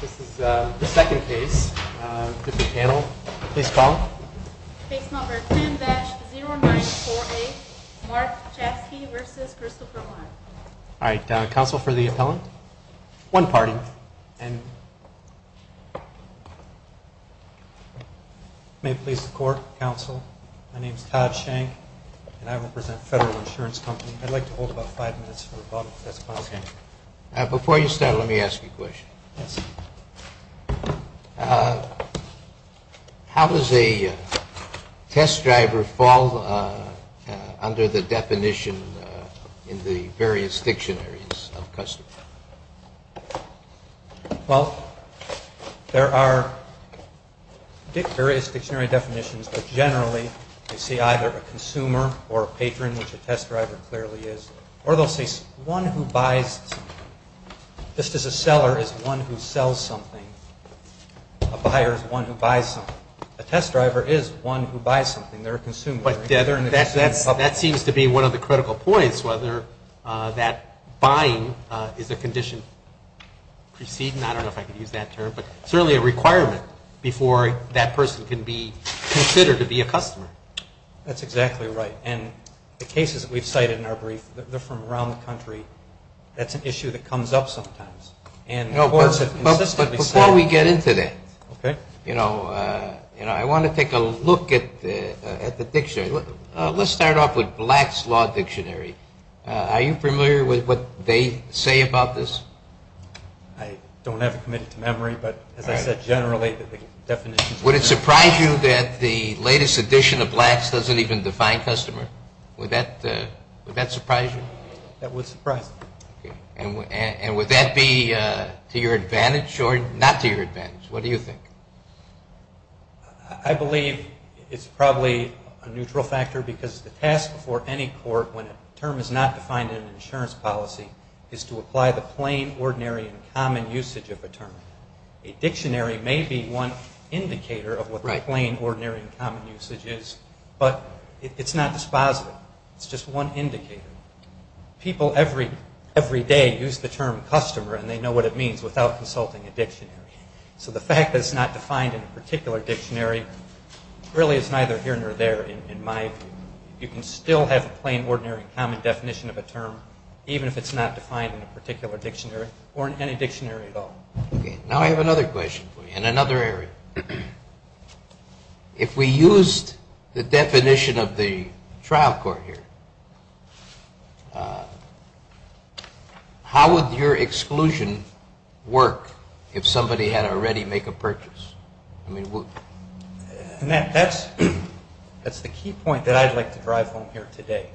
This is the second case of the panel. Please call them. Case number 10-0948, Mark Czapski v. Christopher Warren. All right. Counsel for the appellant. One party. May it please the Court, Counsel, my name is Todd Schenck and I represent Federal Insurance Company. I'd like to hold about five minutes for the bottom of the testimony. Before you start, let me ask you a question. How does a test driver fall under the definition in the various dictionaries of customers? Well, there are various dictionary definitions, but generally they say either a consumer or patron, which a test driver clearly is, or they'll say one who buys something. Just as a seller is one who sells something, a buyer is one who buys something. A test driver is one who buys something. They're a consumer. But that seems to be one of the critical points, whether that buying is a condition preceding, I don't know if I can use that term, but certainly a requirement before that person can be considered to be a customer. That's exactly right. And the cases that we've cited in our brief, they're from around the country. That's an issue that comes up sometimes. But before we get into that, you know, I want to take a look at the dictionary. Let's start off with Black's Law Dictionary. Are you familiar with what they say about this? I don't have it committed to memory, but as I said, generally the definitions are there. Would it surprise you that the latest edition of Black's doesn't even define customer? Would that surprise you? That would surprise me. And would that be to your advantage or not to your advantage? What do you think? I believe it's probably a neutral factor because the task before any court when a term is not defined in an insurance policy is to apply the plain, ordinary, and common usage of a term. A dictionary may be one indicator of what the plain, ordinary, and common usage is, but it's not dispositive. It's just one indicator. People every day use the term customer and they know what it means without consulting a dictionary. So the fact that it's not defined in a particular dictionary really is neither here nor there in my view. You can still have a plain, ordinary, and common definition of a term even if it's not defined in a particular dictionary or in any dictionary at all. Now I have another question for you in another area. If we used the definition of the trial court here, how would your exclusion work if somebody had already made a purchase? That's the key point that I'd like to drive home here today.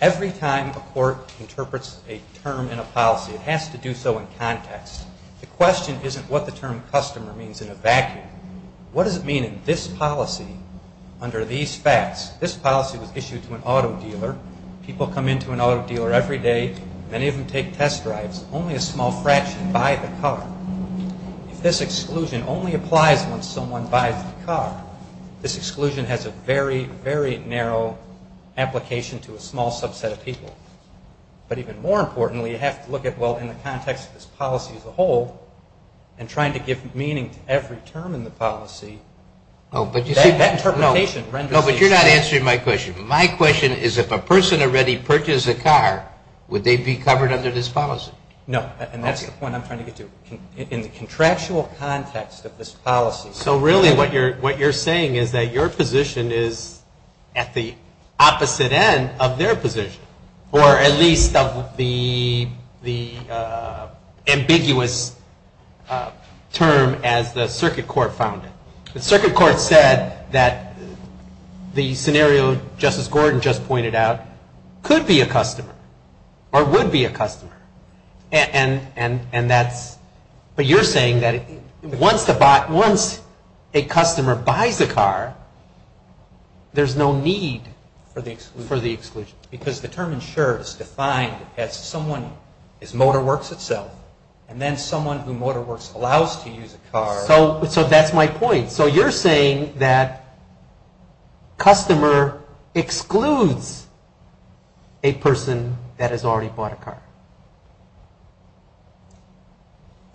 Every time a court interprets a term in a policy, it has to do so in context. The question isn't what the term customer means in a vacuum. What does it mean in this policy under these facts? This policy was issued to an auto dealer. People come into an auto dealer every day. Many of them take test drives. Only a small fraction buy the car. If this exclusion only applies when someone buys the car, this exclusion has a very, very narrow application to a small subset of people. But even more importantly, you have to look at, well, in the context of this policy as a whole, and trying to give meaning to every term in the policy, that interpretation renders the exclusion. No, but you're not answering my question. My question is if a person already purchased a car, would they be covered under this policy? No, and that's the point I'm trying to get to. In the contractual context of this policy. So really what you're saying is that your position is at the opposite end of their position, or at least of the ambiguous term as the circuit court found it. The circuit court said that the scenario Justice Gordon just pointed out could be a customer or would be a customer. And that's, but you're saying that once a customer buys a car, there's no need for the exclusion. Because the term insurer is defined as someone is motor works itself, and then someone who motor works allows to use a car. So that's my point. So you're saying that customer excludes a person that has already bought a car.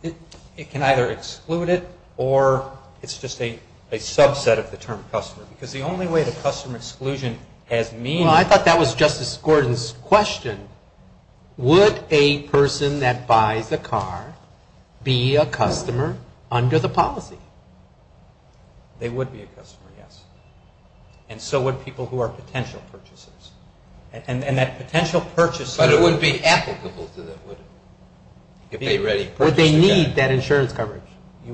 It can either exclude it or it's just a subset of the term customer. Because the only way the customer exclusion has meaning. Well, I thought that was Justice Gordon's question. Would a person that buys a car be a customer under the policy? They would be a customer, yes. And so would people who are potential purchasers. And that potential purchaser. But it wouldn't be applicable to them, would it? Would they need that insurance coverage? You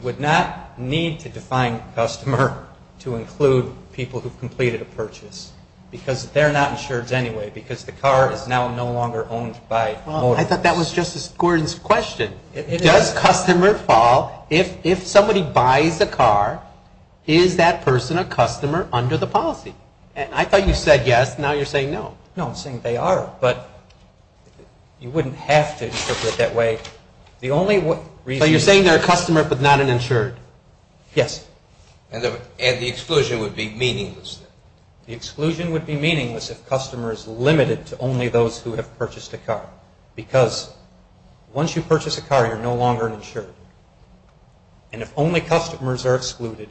would not need to define customer to include people who've completed a purchase. Because they're not insured anyway. Because the car is now no longer owned by motorists. Well, I thought that was Justice Gordon's question. Does customer fall, if somebody buys a car, is that person a customer under the policy? And I thought you said yes. Now you're saying no. No, I'm saying they are. But you wouldn't have to interpret it that way. The only reason. So you're saying they're a customer but not an insured. Yes. And the exclusion would be meaningless. The exclusion would be meaningless if customer is limited to only those who have purchased a car. Because once you purchase a car, you're no longer an insured. And if only customers are excluded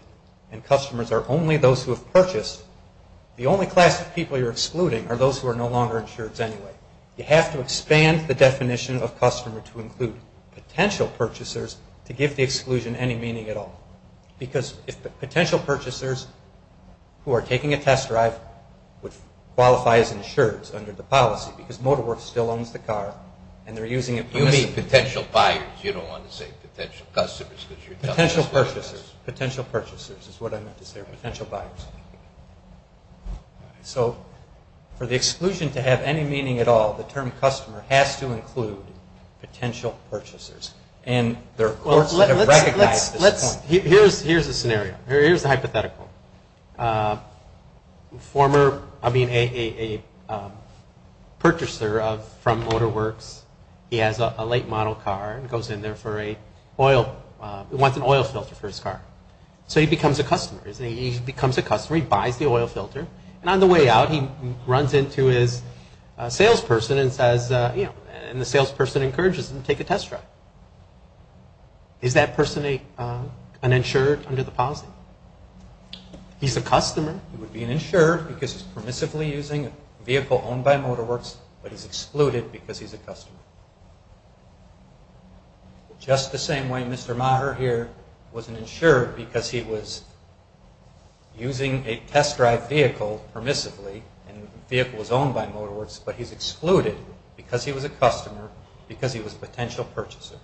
and customers are only those who have purchased, the only class of people you're excluding are those who are no longer insureds anyway. You have to expand the definition of customer to include potential purchasers to give the exclusion any meaning at all. Because if potential purchasers who are taking a test drive would qualify as insureds under the policy because MotorWorks still owns the car and they're using it. You mean potential buyers. You don't want to say potential customers. Potential purchasers. Potential purchasers is what I meant to say. Potential buyers. So for the exclusion to have any meaning at all, the term customer has to include potential purchasers. Here's the scenario. Here's the hypothetical. A purchaser from MotorWorks, he has a late model car and goes in there for an oil filter for his car. So he becomes a customer. He becomes a customer. He buys the oil filter. And on the way out, he runs into his salesperson and the salesperson encourages him to take a test drive. Is that person an insured under the policy? He's a customer. He would be an insured because he's permissively using a vehicle owned by MotorWorks, just the same way Mr. Maher here was an insured because he was using a test drive vehicle permissively and the vehicle was owned by MotorWorks, but he's excluded because he was a customer because he was a potential purchaser.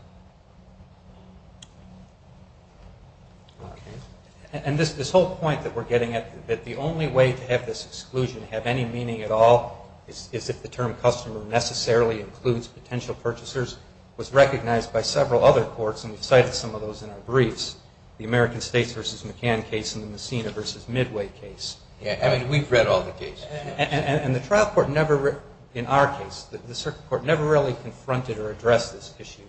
And this whole point that we're getting at, that the only way to have this exclusion have any meaning at all is if the term customer necessarily includes potential purchasers, was recognized by several other courts, and we've cited some of those in our briefs, the American States v. McCann case and the Messina v. Midway case. I mean, we've read all the cases. And the trial court never, in our case, the circuit court never really confronted or addressed this issue.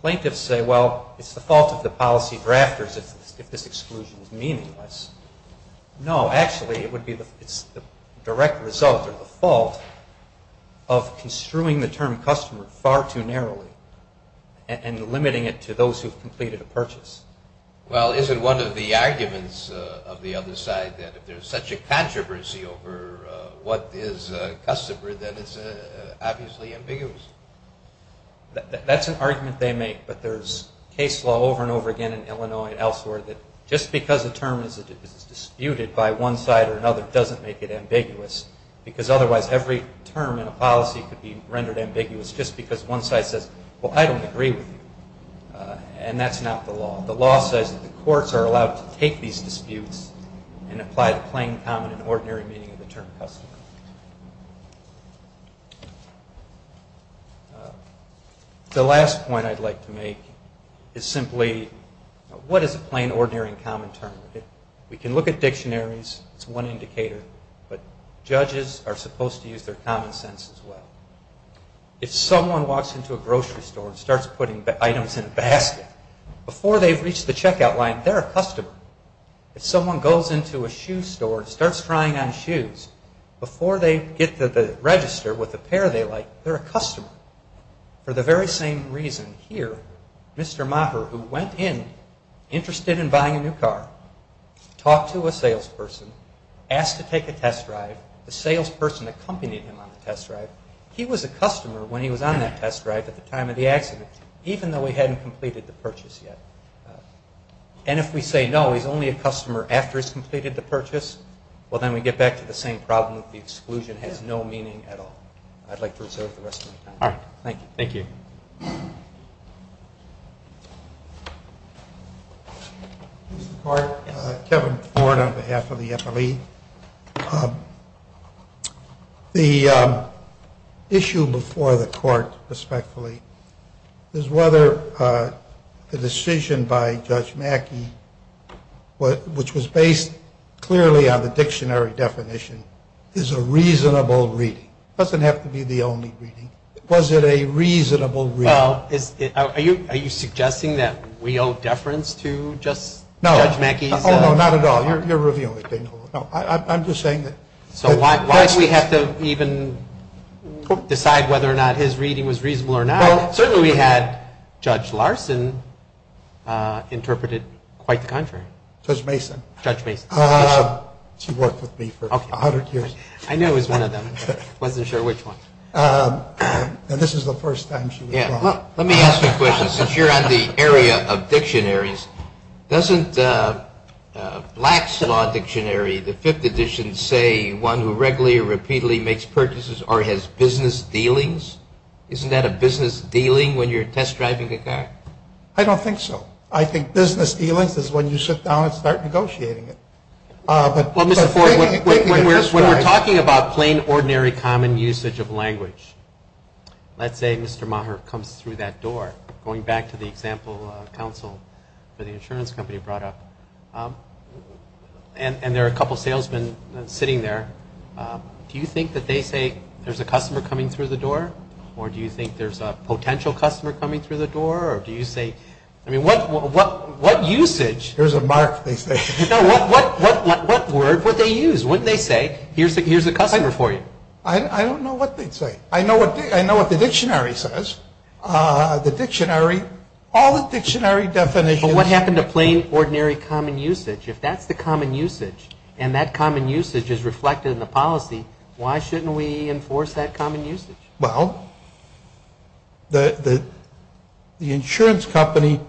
Plaintiffs say, well, it's the fault of the policy drafters if this exclusion is meaningless. No, actually, it would be the direct result or the fault of construing the term customer far too narrowly and limiting it to those who've completed a purchase. Well, isn't one of the arguments of the other side that if there's such a controversy over what is a customer, then it's obviously ambiguous? That's an argument they make, but there's case law over and over again in Illinois and elsewhere that just because a term is disputed by one side or another doesn't make it ambiguous, because otherwise every term in a policy could be rendered ambiguous just because one side says, well, I don't agree with you, and that's not the law. The law says that the courts are allowed to take these disputes and apply the plain, common, and ordinary meaning of the term customer. The last point I'd like to make is simply, what is a plain, ordinary, and common term? We can look at dictionaries. It's one indicator, but judges are supposed to use their common sense as well. If someone walks into a grocery store and starts putting items in a basket, before they've reached the checkout line, they're a customer. If someone goes into a shoe store and starts trying on shoes, before they get to the register with the pair they like, they're a customer, for the very same reason here. Mr. Moffer, who went in interested in buying a new car, talked to a salesperson, asked to take a test drive. The salesperson accompanied him on the test drive. He was a customer when he was on that test drive at the time of the accident, even though he hadn't completed the purchase yet. And if we say, no, he's only a customer after he's completed the purchase, well, then we get back to the same problem that the exclusion has no meaning at all. I'd like to reserve the rest of my time. All right. Thank you. Thank you. Mr. Clark? Kevin Ford on behalf of the FLE. The issue before the court, respectfully, is whether the decision by Judge Mackey, which was based clearly on the dictionary definition, is a reasonable reading. It doesn't have to be the only reading. Was it a reasonable reading? Well, are you suggesting that we owe deference to Judge Mackey? No. Oh, no, not at all. You're reviewing it. I'm just saying that. So why do we have to even decide whether or not his reading was reasonable or not? Well, certainly we had Judge Larson interpret it quite the contrary. Judge Mason. Judge Mason. She worked with me for 100 years. I knew it was one of them. I wasn't sure which one. And this is the first time she was wrong. Let me ask you a question. Since you're on the area of dictionaries, doesn't Black's Law Dictionary, the fifth edition, say one who regularly or repeatedly makes purchases or has business dealings? Isn't that a business dealing when you're test driving a car? I don't think so. I think business dealings is when you sit down and start negotiating it. Well, Mr. Ford, when we're talking about plain, ordinary, common usage of language, let's say Mr. Maher comes through that door, going back to the example counsel for the insurance company brought up, and there are a couple of salesmen sitting there, do you think that they say there's a customer coming through the door, or do you think there's a potential customer coming through the door, or do you say, I mean, what usage? Here's a mark, they say. No, what word would they use? Wouldn't they say, here's a customer for you? I don't know what they'd say. I know what the dictionary says. The dictionary, all the dictionary definitions. But what happened to plain, ordinary, common usage? If that's the common usage, and that common usage is reflected in the policy, why shouldn't we enforce that common usage? Well, the insurance company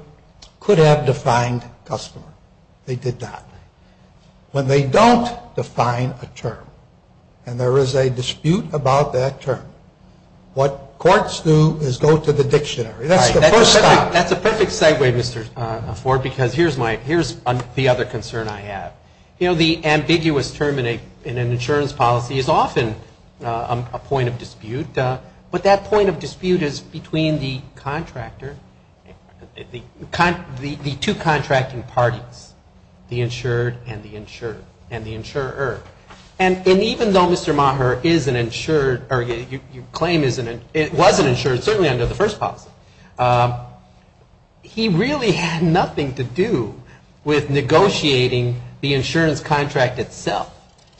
could have defined customer. They did not. When they don't define a term, and there is a dispute about that term, what courts do is go to the dictionary. That's the first stop. That's a perfect segue, Mr. Ford, because here's the other concern I have. You know, the ambiguous term in an insurance policy is often a point of dispute, but that point of dispute is between the contractor, the two contracting parties, the insured and the insurer. And even though Mr. Maher is an insured, or you claim he was an insured, certainly under the first policy, he really had nothing to do with negotiating the insurance contract itself.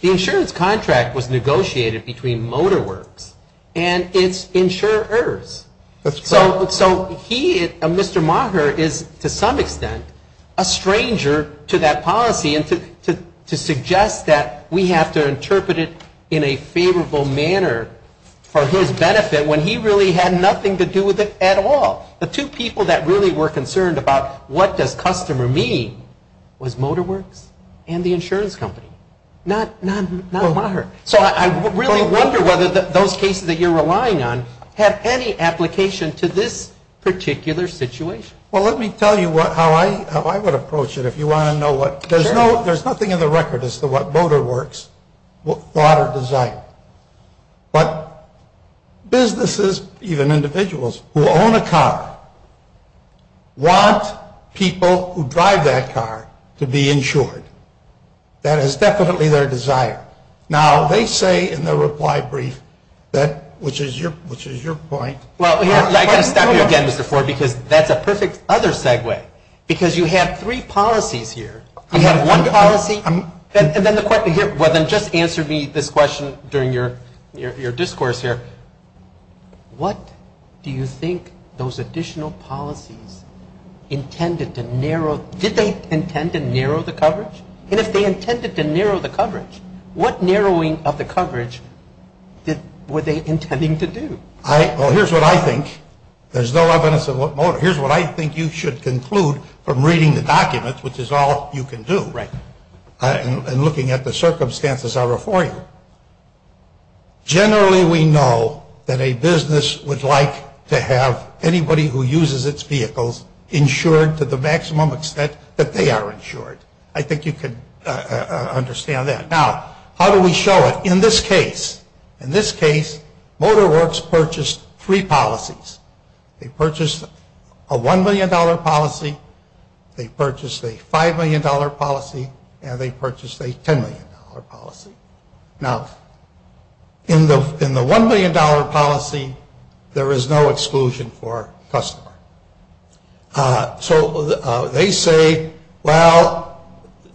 The insurance contract was negotiated between MotorWorks and its insurers. So he, Mr. Maher, is to some extent a stranger to that policy and to suggest that we have to interpret it in a favorable manner for his benefit when he really had nothing to do with it at all. The two people that really were concerned about what does customer mean was MotorWorks and the insurance company, not Maher. So I really wonder whether those cases that you're relying on have any application to this particular situation. Well, let me tell you how I would approach it if you want to know. There's nothing in the record as to what MotorWorks thought or designed. But businesses, even individuals who own a car, want people who drive that car to be insured. That is definitely their desire. Now, they say in their reply brief that, which is your point. Well, I've got to stop you again, Mr. Ford, because that's a perfect other segue. Because you have three policies here. You have one policy. Well, then just answer me this question during your discourse here. What do you think those additional policies intended to narrow? Did they intend to narrow the coverage? And if they intended to narrow the coverage, what narrowing of the coverage were they intending to do? Well, here's what I think. There's no evidence of what Motor. Here's what I think you should conclude from reading the documents, which is all you can do, and looking at the circumstances that are before you. Generally, we know that a business would like to have anybody who uses its vehicles insured to the maximum extent that they are insured. I think you can understand that. Now, how do we show it? In this case, in this case, MotorWorks purchased three policies. They purchased a $1 million policy. They purchased a $5 million policy. And they purchased a $10 million policy. Now, in the $1 million policy, there is no exclusion for customer. So they say, well,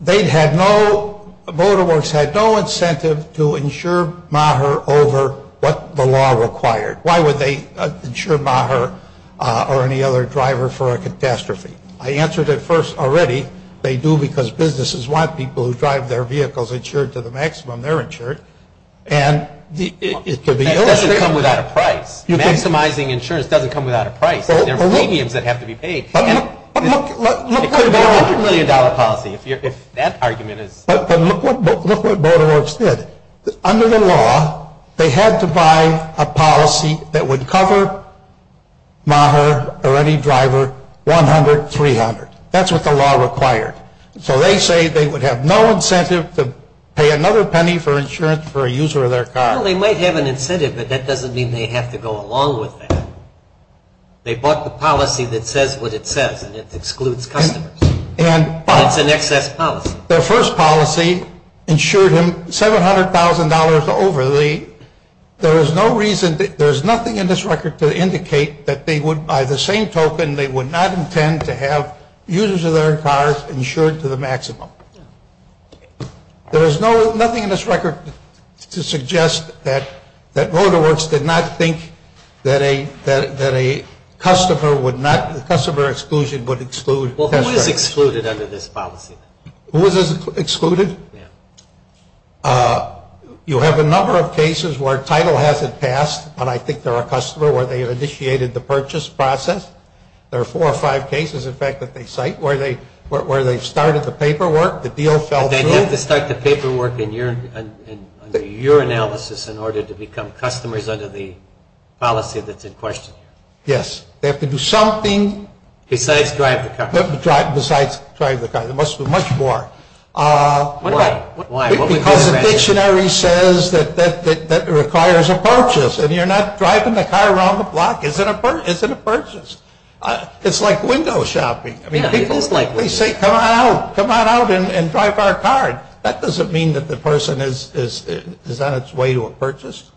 they had no, MotorWorks had no incentive to insure Maher over what the law required. Why would they insure Maher or any other driver for a catastrophe? I answered it first already. They do because businesses want people who drive their vehicles insured to the maximum they're insured. And it could be illustrated. That doesn't come without a price. Maximizing insurance doesn't come without a price. There are premiums that have to be paid. It could have been a $100 million policy if that argument is. But look what MotorWorks did. Under the law, they had to buy a policy that would cover Maher or any driver $100, $300. That's what the law required. So they say they would have no incentive to pay another penny for insurance for a user of their car. Well, they might have an incentive, but that doesn't mean they have to go along with that. They bought the policy that says what it says, and it excludes customers. But it's an excess policy. Their first policy insured him $700,000 over. There is no reason, there is nothing in this record to indicate that they would, by the same token, they would not intend to have users of their cars insured to the maximum. There is nothing in this record to suggest that MotorWorks did not think that a customer would not, that customer exclusion would exclude. Well, who is excluded under this policy? Who is excluded? You have a number of cases where title hasn't passed, but I think they're a customer where they've initiated the purchase process. There are four or five cases, in fact, that they cite where they've started the paperwork, the deal fell through. Do they have to start the paperwork under your analysis in order to become customers under the policy that's in question? Yes. They have to do something. Besides drive the car. Besides drive the car. There must be much more. Why? Because the dictionary says that it requires a purchase, and you're not driving the car around the block, is it a purchase? It's like window shopping. People say, come on out, come on out and drive our car. That doesn't mean that the person is on its way to a purchase.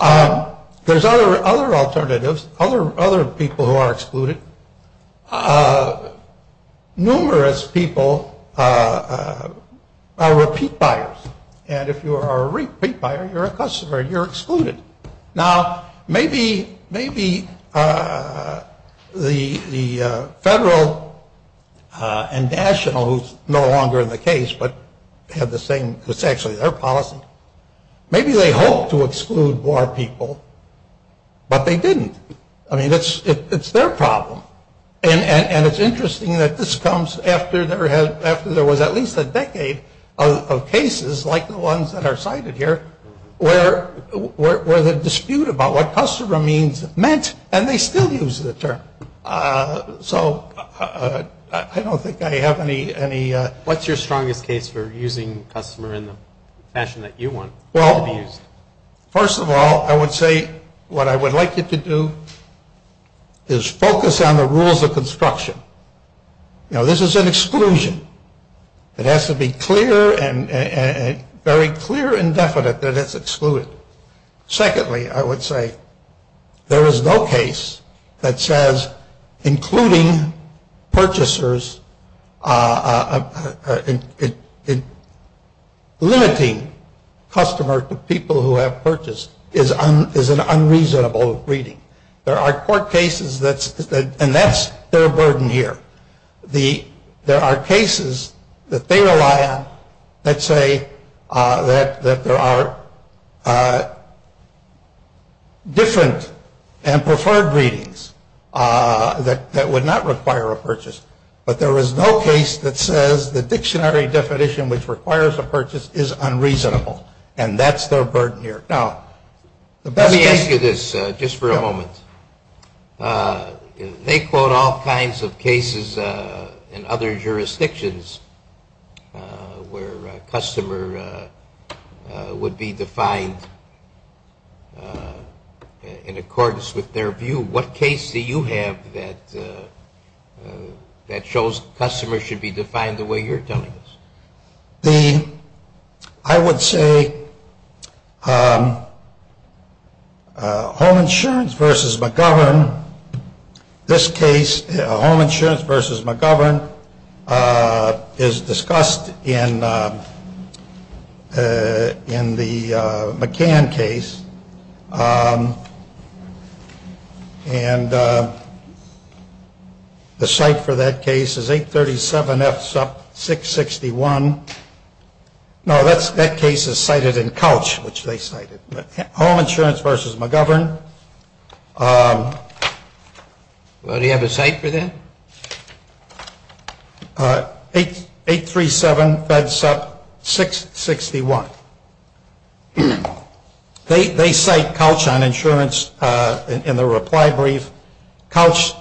There's other alternatives, other people who are excluded. Numerous people are repeat buyers. And if you are a repeat buyer, you're a customer. You're excluded. Now, maybe the federal and national, who's no longer in the case, but had the same, it's actually their policy. Maybe they hope to exclude more people, but they didn't. I mean, it's their problem. And it's interesting that this comes after there was at least a decade of cases, like the ones that are cited here, where the dispute about what customer means meant, and they still use the term. So I don't think I have any. What's your strongest case for using customer in the fashion that you want to be used? Well, first of all, I would say what I would like you to do is focus on the rules of construction. You know, this is an exclusion. It has to be clear and very clear and definite that it's excluded. Secondly, I would say there is no case that says including purchasers, limiting customers to people who have purchased, is an unreasonable greeting. There are court cases, and that's their burden here. There are cases that they rely on that say that there are different and preferred greetings that would not require a purchase. But there is no case that says the dictionary definition which requires a purchase is unreasonable, and that's their burden here. Now, the best case... Let me ask you this, just for a moment. They quote all kinds of cases in other jurisdictions where customer would be defined in accordance with their view. What case do you have that shows customer should be defined the way you're telling us? I would say Home Insurance v. McGovern. This case, Home Insurance v. McGovern, is discussed in the McCann case, and the site for that case is 837 F. Supp. 661. No, that case is cited in Couch, which they cited. Home Insurance v. McGovern. Well, do you have a site for that? 837 F. Supp. 661. They cite Couch on insurance in the reply brief. Couch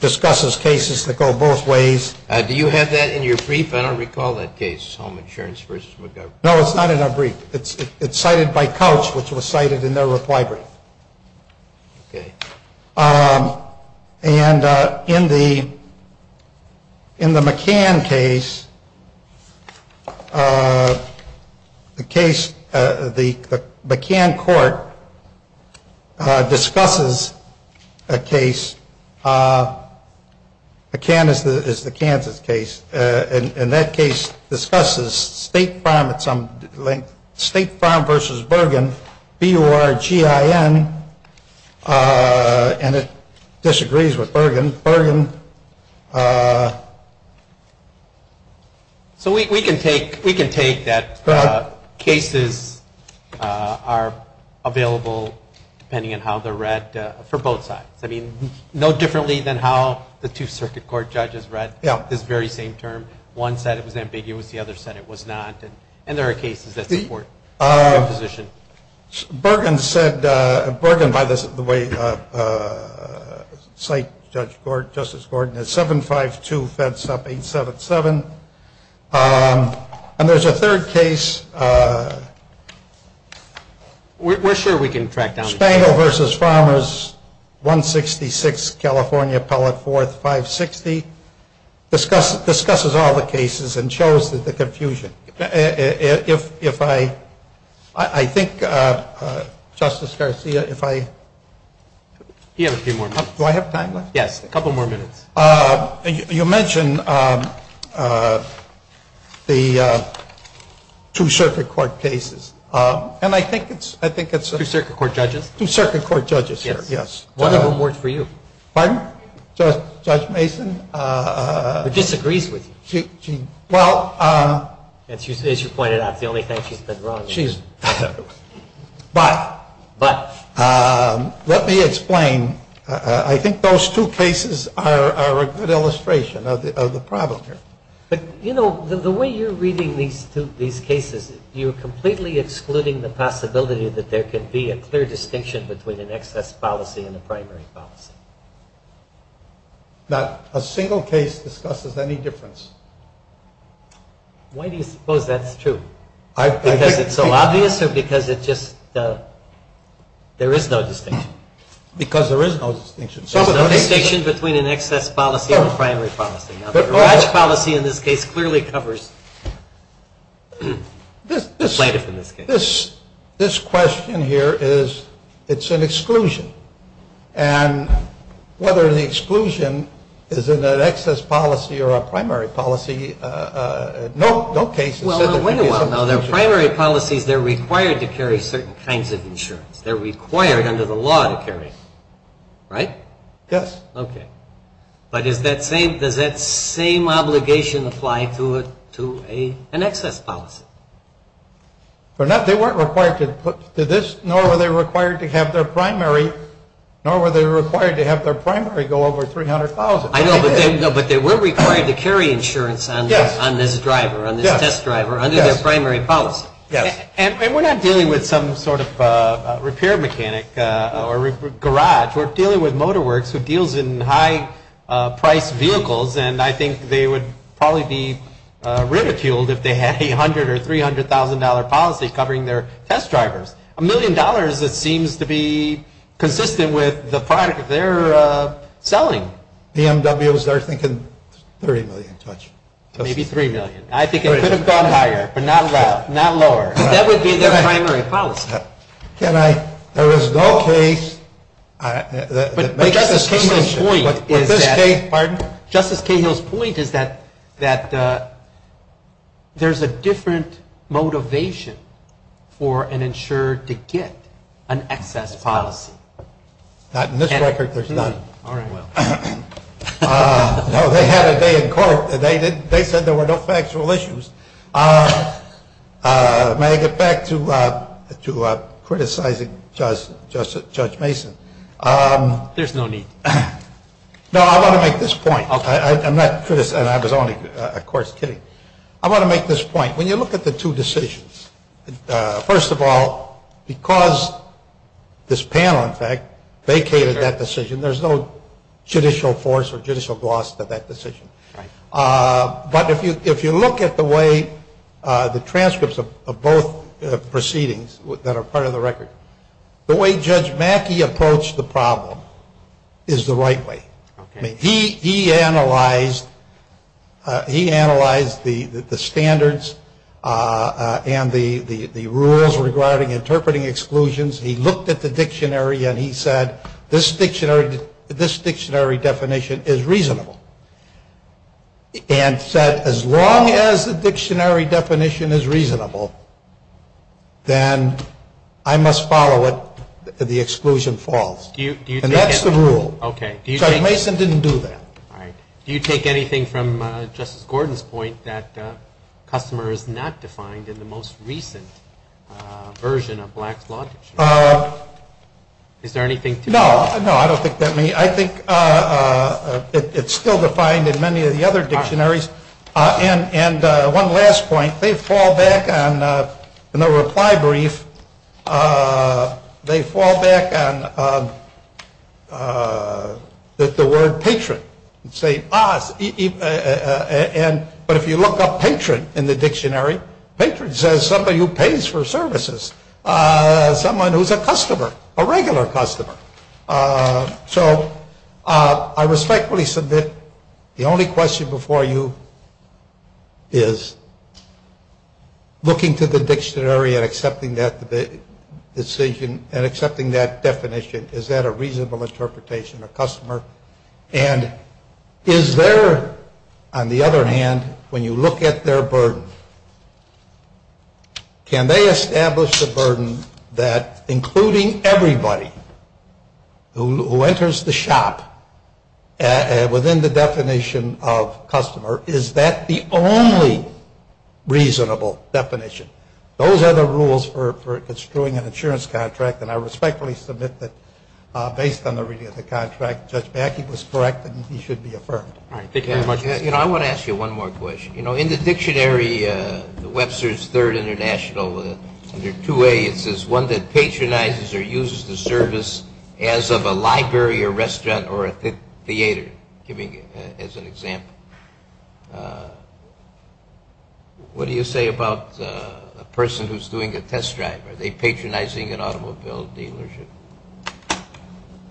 discusses cases that go both ways. Do you have that in your brief? I don't recall that case, Home Insurance v. McGovern. No, it's not in our brief. It's cited by Couch, which was cited in their reply brief. Okay. And in the McCann case, the McCann court discusses a case. McCann is the Kansas case. And that case discusses State Farm v. Bergen, B-U-R-G-I-N, and it disagrees with Bergen. So we can take that cases are available, depending on how they're read, for both sides. I mean, no differently than how the two circuit court judges read this very same term. One said it was ambiguous. The other said it was not. And there are cases that support that position. Bergen said, Bergen, by the way, cite Justice Gordon, is 752 F. Supp. 877. And there's a third case. We're sure we can track down. Spangle v. Farmers, 166 California Pellet 4th, 560, discusses all the cases and shows the confusion. If I, I think Justice Garcia, if I. He has a few more minutes. Do I have time left? Yes, a couple more minutes. You mentioned the two circuit court cases. And I think it's. Two circuit court judges. Two circuit court judges, yes. One of them worked for you. Pardon? Judge Mason. Disagrees with you. Well. As you pointed out, it's the only thing she's been wrong. She's. But. But. Let me explain. I think those two cases are a good illustration of the problem here. But, you know, the way you're reading these cases, you're completely excluding the possibility that there could be a clear distinction between an excess policy and a primary policy. Not a single case discusses any difference. Why do you suppose that's true? Because it's so obvious or because it just. There is no distinction. Because there is no distinction. There's no distinction between an excess policy and a primary policy. A large policy in this case clearly covers. This question here is. It's an exclusion. And whether the exclusion is in an excess policy or a primary policy. No, no cases. Well, wait a while now. Their primary policies, they're required to carry certain kinds of insurance. They're required under the law to carry. Right? Yes. Okay. But is that same? Does that same obligation apply to an excess policy? They weren't required to do this, nor were they required to have their primary. Nor were they required to have their primary go over $300,000. I know, but they were required to carry insurance on this driver, on this test driver, under their primary policy. Yes. And we're not dealing with some sort of repair mechanic or garage. We're dealing with MotorWorks, who deals in high-priced vehicles. And I think they would probably be ridiculed if they had $800,000 or $300,000 policy covering their test drivers. A million dollars, it seems to be consistent with the product they're selling. BMWs, they're thinking $30 million. Maybe $3 million. I think it could have gone higher, but not lower. Because that would be their primary policy. Can I? There is no case. But Justice Cahill's point is that there's a different motivation for an insured to get an excess policy. Not in this record, there's none. All right, well. No, they had a day in court. They said there were no factual issues. May I get back to criticizing Judge Mason? There's no need. No, I want to make this point. I'm not criticizing. I was only, of course, kidding. I want to make this point. When you look at the two decisions, first of all, because this panel, in fact, vacated that decision, there's no judicial force or judicial gloss to that decision. But if you look at the way the transcripts of both proceedings that are part of the record, the way Judge Mackey approached the problem is the right way. He analyzed the standards and the rules regarding interpreting exclusions. He looked at the dictionary and he said, this dictionary definition is reasonable. And said, as long as the dictionary definition is reasonable, then I must follow it, the exclusion falls. And that's the rule. Judge Mason didn't do that. Do you take anything from Justice Gordon's point that customer is not defined in the most recent version of Black's Law Dictionary? Is there anything to that? No, I don't think that. I think it's still defined in many of the other dictionaries. And one last point. They fall back on, in the reply brief, they fall back on the word patron and say, ah, but if you look up patron in the dictionary, patron says somebody who pays for services, someone who's a customer, a regular customer. So I respectfully submit the only question before you is looking to the dictionary and accepting that decision and accepting that definition, is that a reasonable interpretation of customer? And is there, on the other hand, when you look at their burden, can they establish the burden that including everybody who enters the shop within the definition of customer, is that the only reasonable definition? Those are the rules for construing an insurance contract. And I respectfully submit that based on the reading of the contract, Judge Mackey was correct and he should be affirmed. All right. Thank you very much. You know, I want to ask you one more question. You know, in the dictionary, the Webster's Third International under 2A, it says one that patronizes or uses the service as of a library or restaurant or a theater, giving as an example. What do you say about a person who's doing a test drive? Are they patronizing an automobile dealership?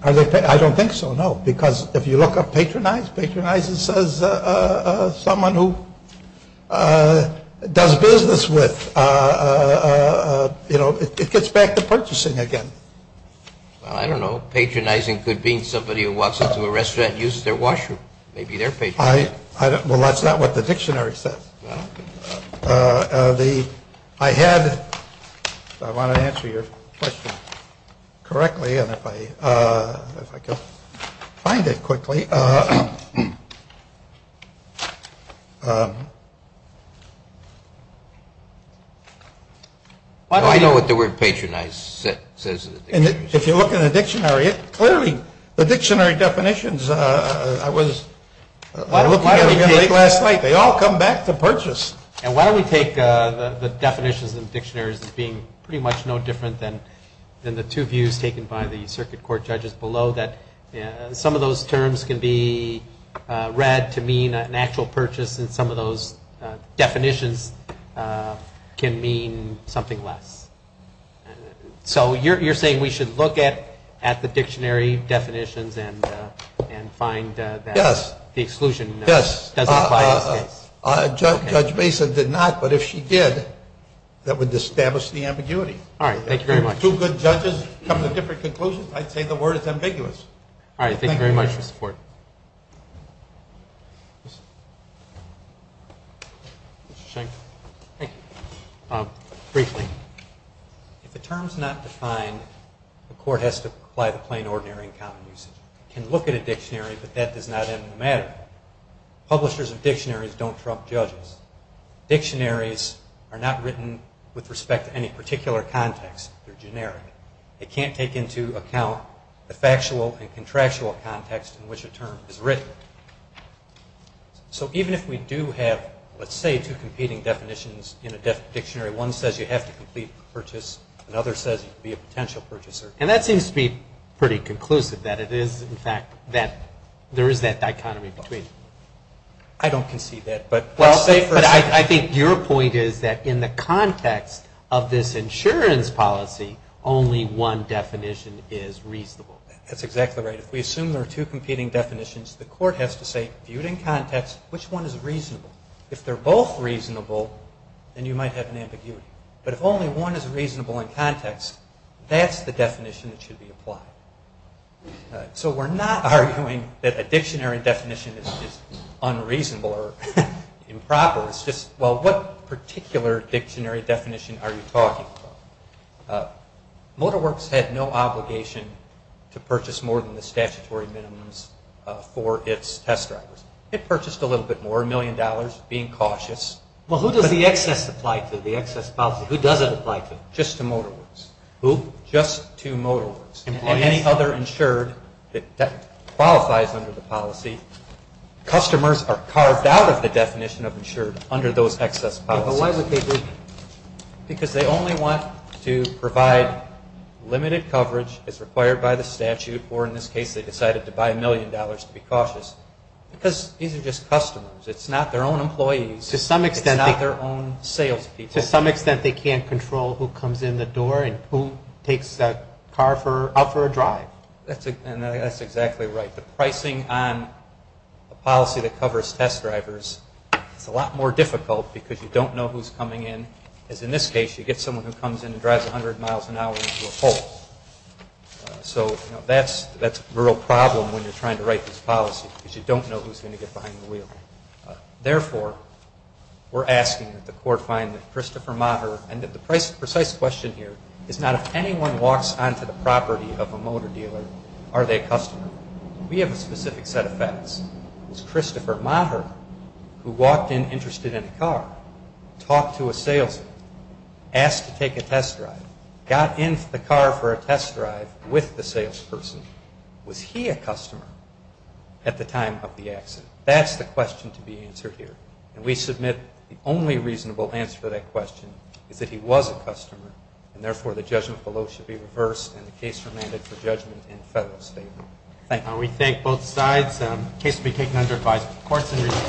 I don't think so, no. Because if you look up patronize, patronize says someone who does business with, you know, it gets back to purchasing again. Well, I don't know. Patronizing could mean somebody who walks into a restaurant and uses their washroom. Maybe they're patronizing. Well, that's not what the dictionary says. The I had I want to answer your question correctly. And if I if I could find it quickly. I know what the word patronize says. And if you look in the dictionary, it clearly the dictionary definitions. I was last night. They all come back to purchase. And why don't we take the definitions and dictionaries as being pretty much no different than than the two views taken by the circuit court judges below that some of those terms can be read to mean an actual purchase. And some of those definitions can mean something less. So you're saying we should look at at the dictionary definitions and and find the exclusion. Yes. Judge Mason did not. But if she did, that would establish the ambiguity. All right. Thank you very much. Two good judges come to different conclusions. I'd say the word is ambiguous. All right. Thank you very much for support. Thank you. Briefly, if the term's not defined, the court has to apply the plain, ordinary and common usage. Can look at a dictionary, but that does not matter. Publishers of dictionaries don't trump judges. Dictionaries are not written with respect to any particular context. They're generic. They can't take into account the factual and contractual context in which a term is written. So even if we do have, let's say, two competing definitions in a dictionary, one says you have to complete the purchase. Another says you could be a potential purchaser. And that seems to be pretty conclusive, that it is, in fact, that there is that dichotomy between. I don't concede that. But I think your point is that in the context of this insurance policy, only one definition is reasonable. That's exactly right. If we assume there are two competing definitions, the court has to say, viewed in context, which one is reasonable? If they're both reasonable, then you might have an ambiguity. But if only one is reasonable in context, that's the definition that should be applied. So we're not arguing that a dictionary definition is unreasonable or improper. It's just, well, what particular dictionary definition are you talking about? MotorWorks had no obligation to purchase more than the statutory minimums for its test drivers. It purchased a little bit more, a million dollars, being cautious. Well, who does the excess apply to, the excess policy? Who does it apply to? Just to MotorWorks. Who? Just to MotorWorks. Employees? Any other insured that qualifies under the policy. Customers are carved out of the definition of insured under those excess policies. Yeah, but why would they do that? Because they only want to provide limited coverage as required by the statute, or in this case, they decided to buy a million dollars to be cautious, because these are just customers. It's not their own employees. It's not their own sales people. To some extent, they can't control who comes in the door and who takes the car out for a drive. That's exactly right. The pricing on a policy that covers test drivers is a lot more difficult because you don't know who's coming in. As in this case, you get someone who comes in and drives 100 miles an hour into a pole. So that's a real problem when you're trying to write this policy, because you don't know who's going to get behind the wheel. Therefore, we're asking that the court find that Christopher Maher, and the precise question here is not if anyone walks onto the property of a motor dealer, are they a customer. We have a specific set of facts. Was Christopher Maher, who walked in interested in a car, talked to a salesman, asked to take a test drive, got in the car for a test drive with the salesperson, was he a customer at the time of the accident? That's the question to be answered here. And we submit the only reasonable answer to that question is that he was a customer, and therefore the judgment below should be reversed and the case remanded for judgment in federal statement. Thank you. We thank both sides. The case will be taken under advisory of the courts.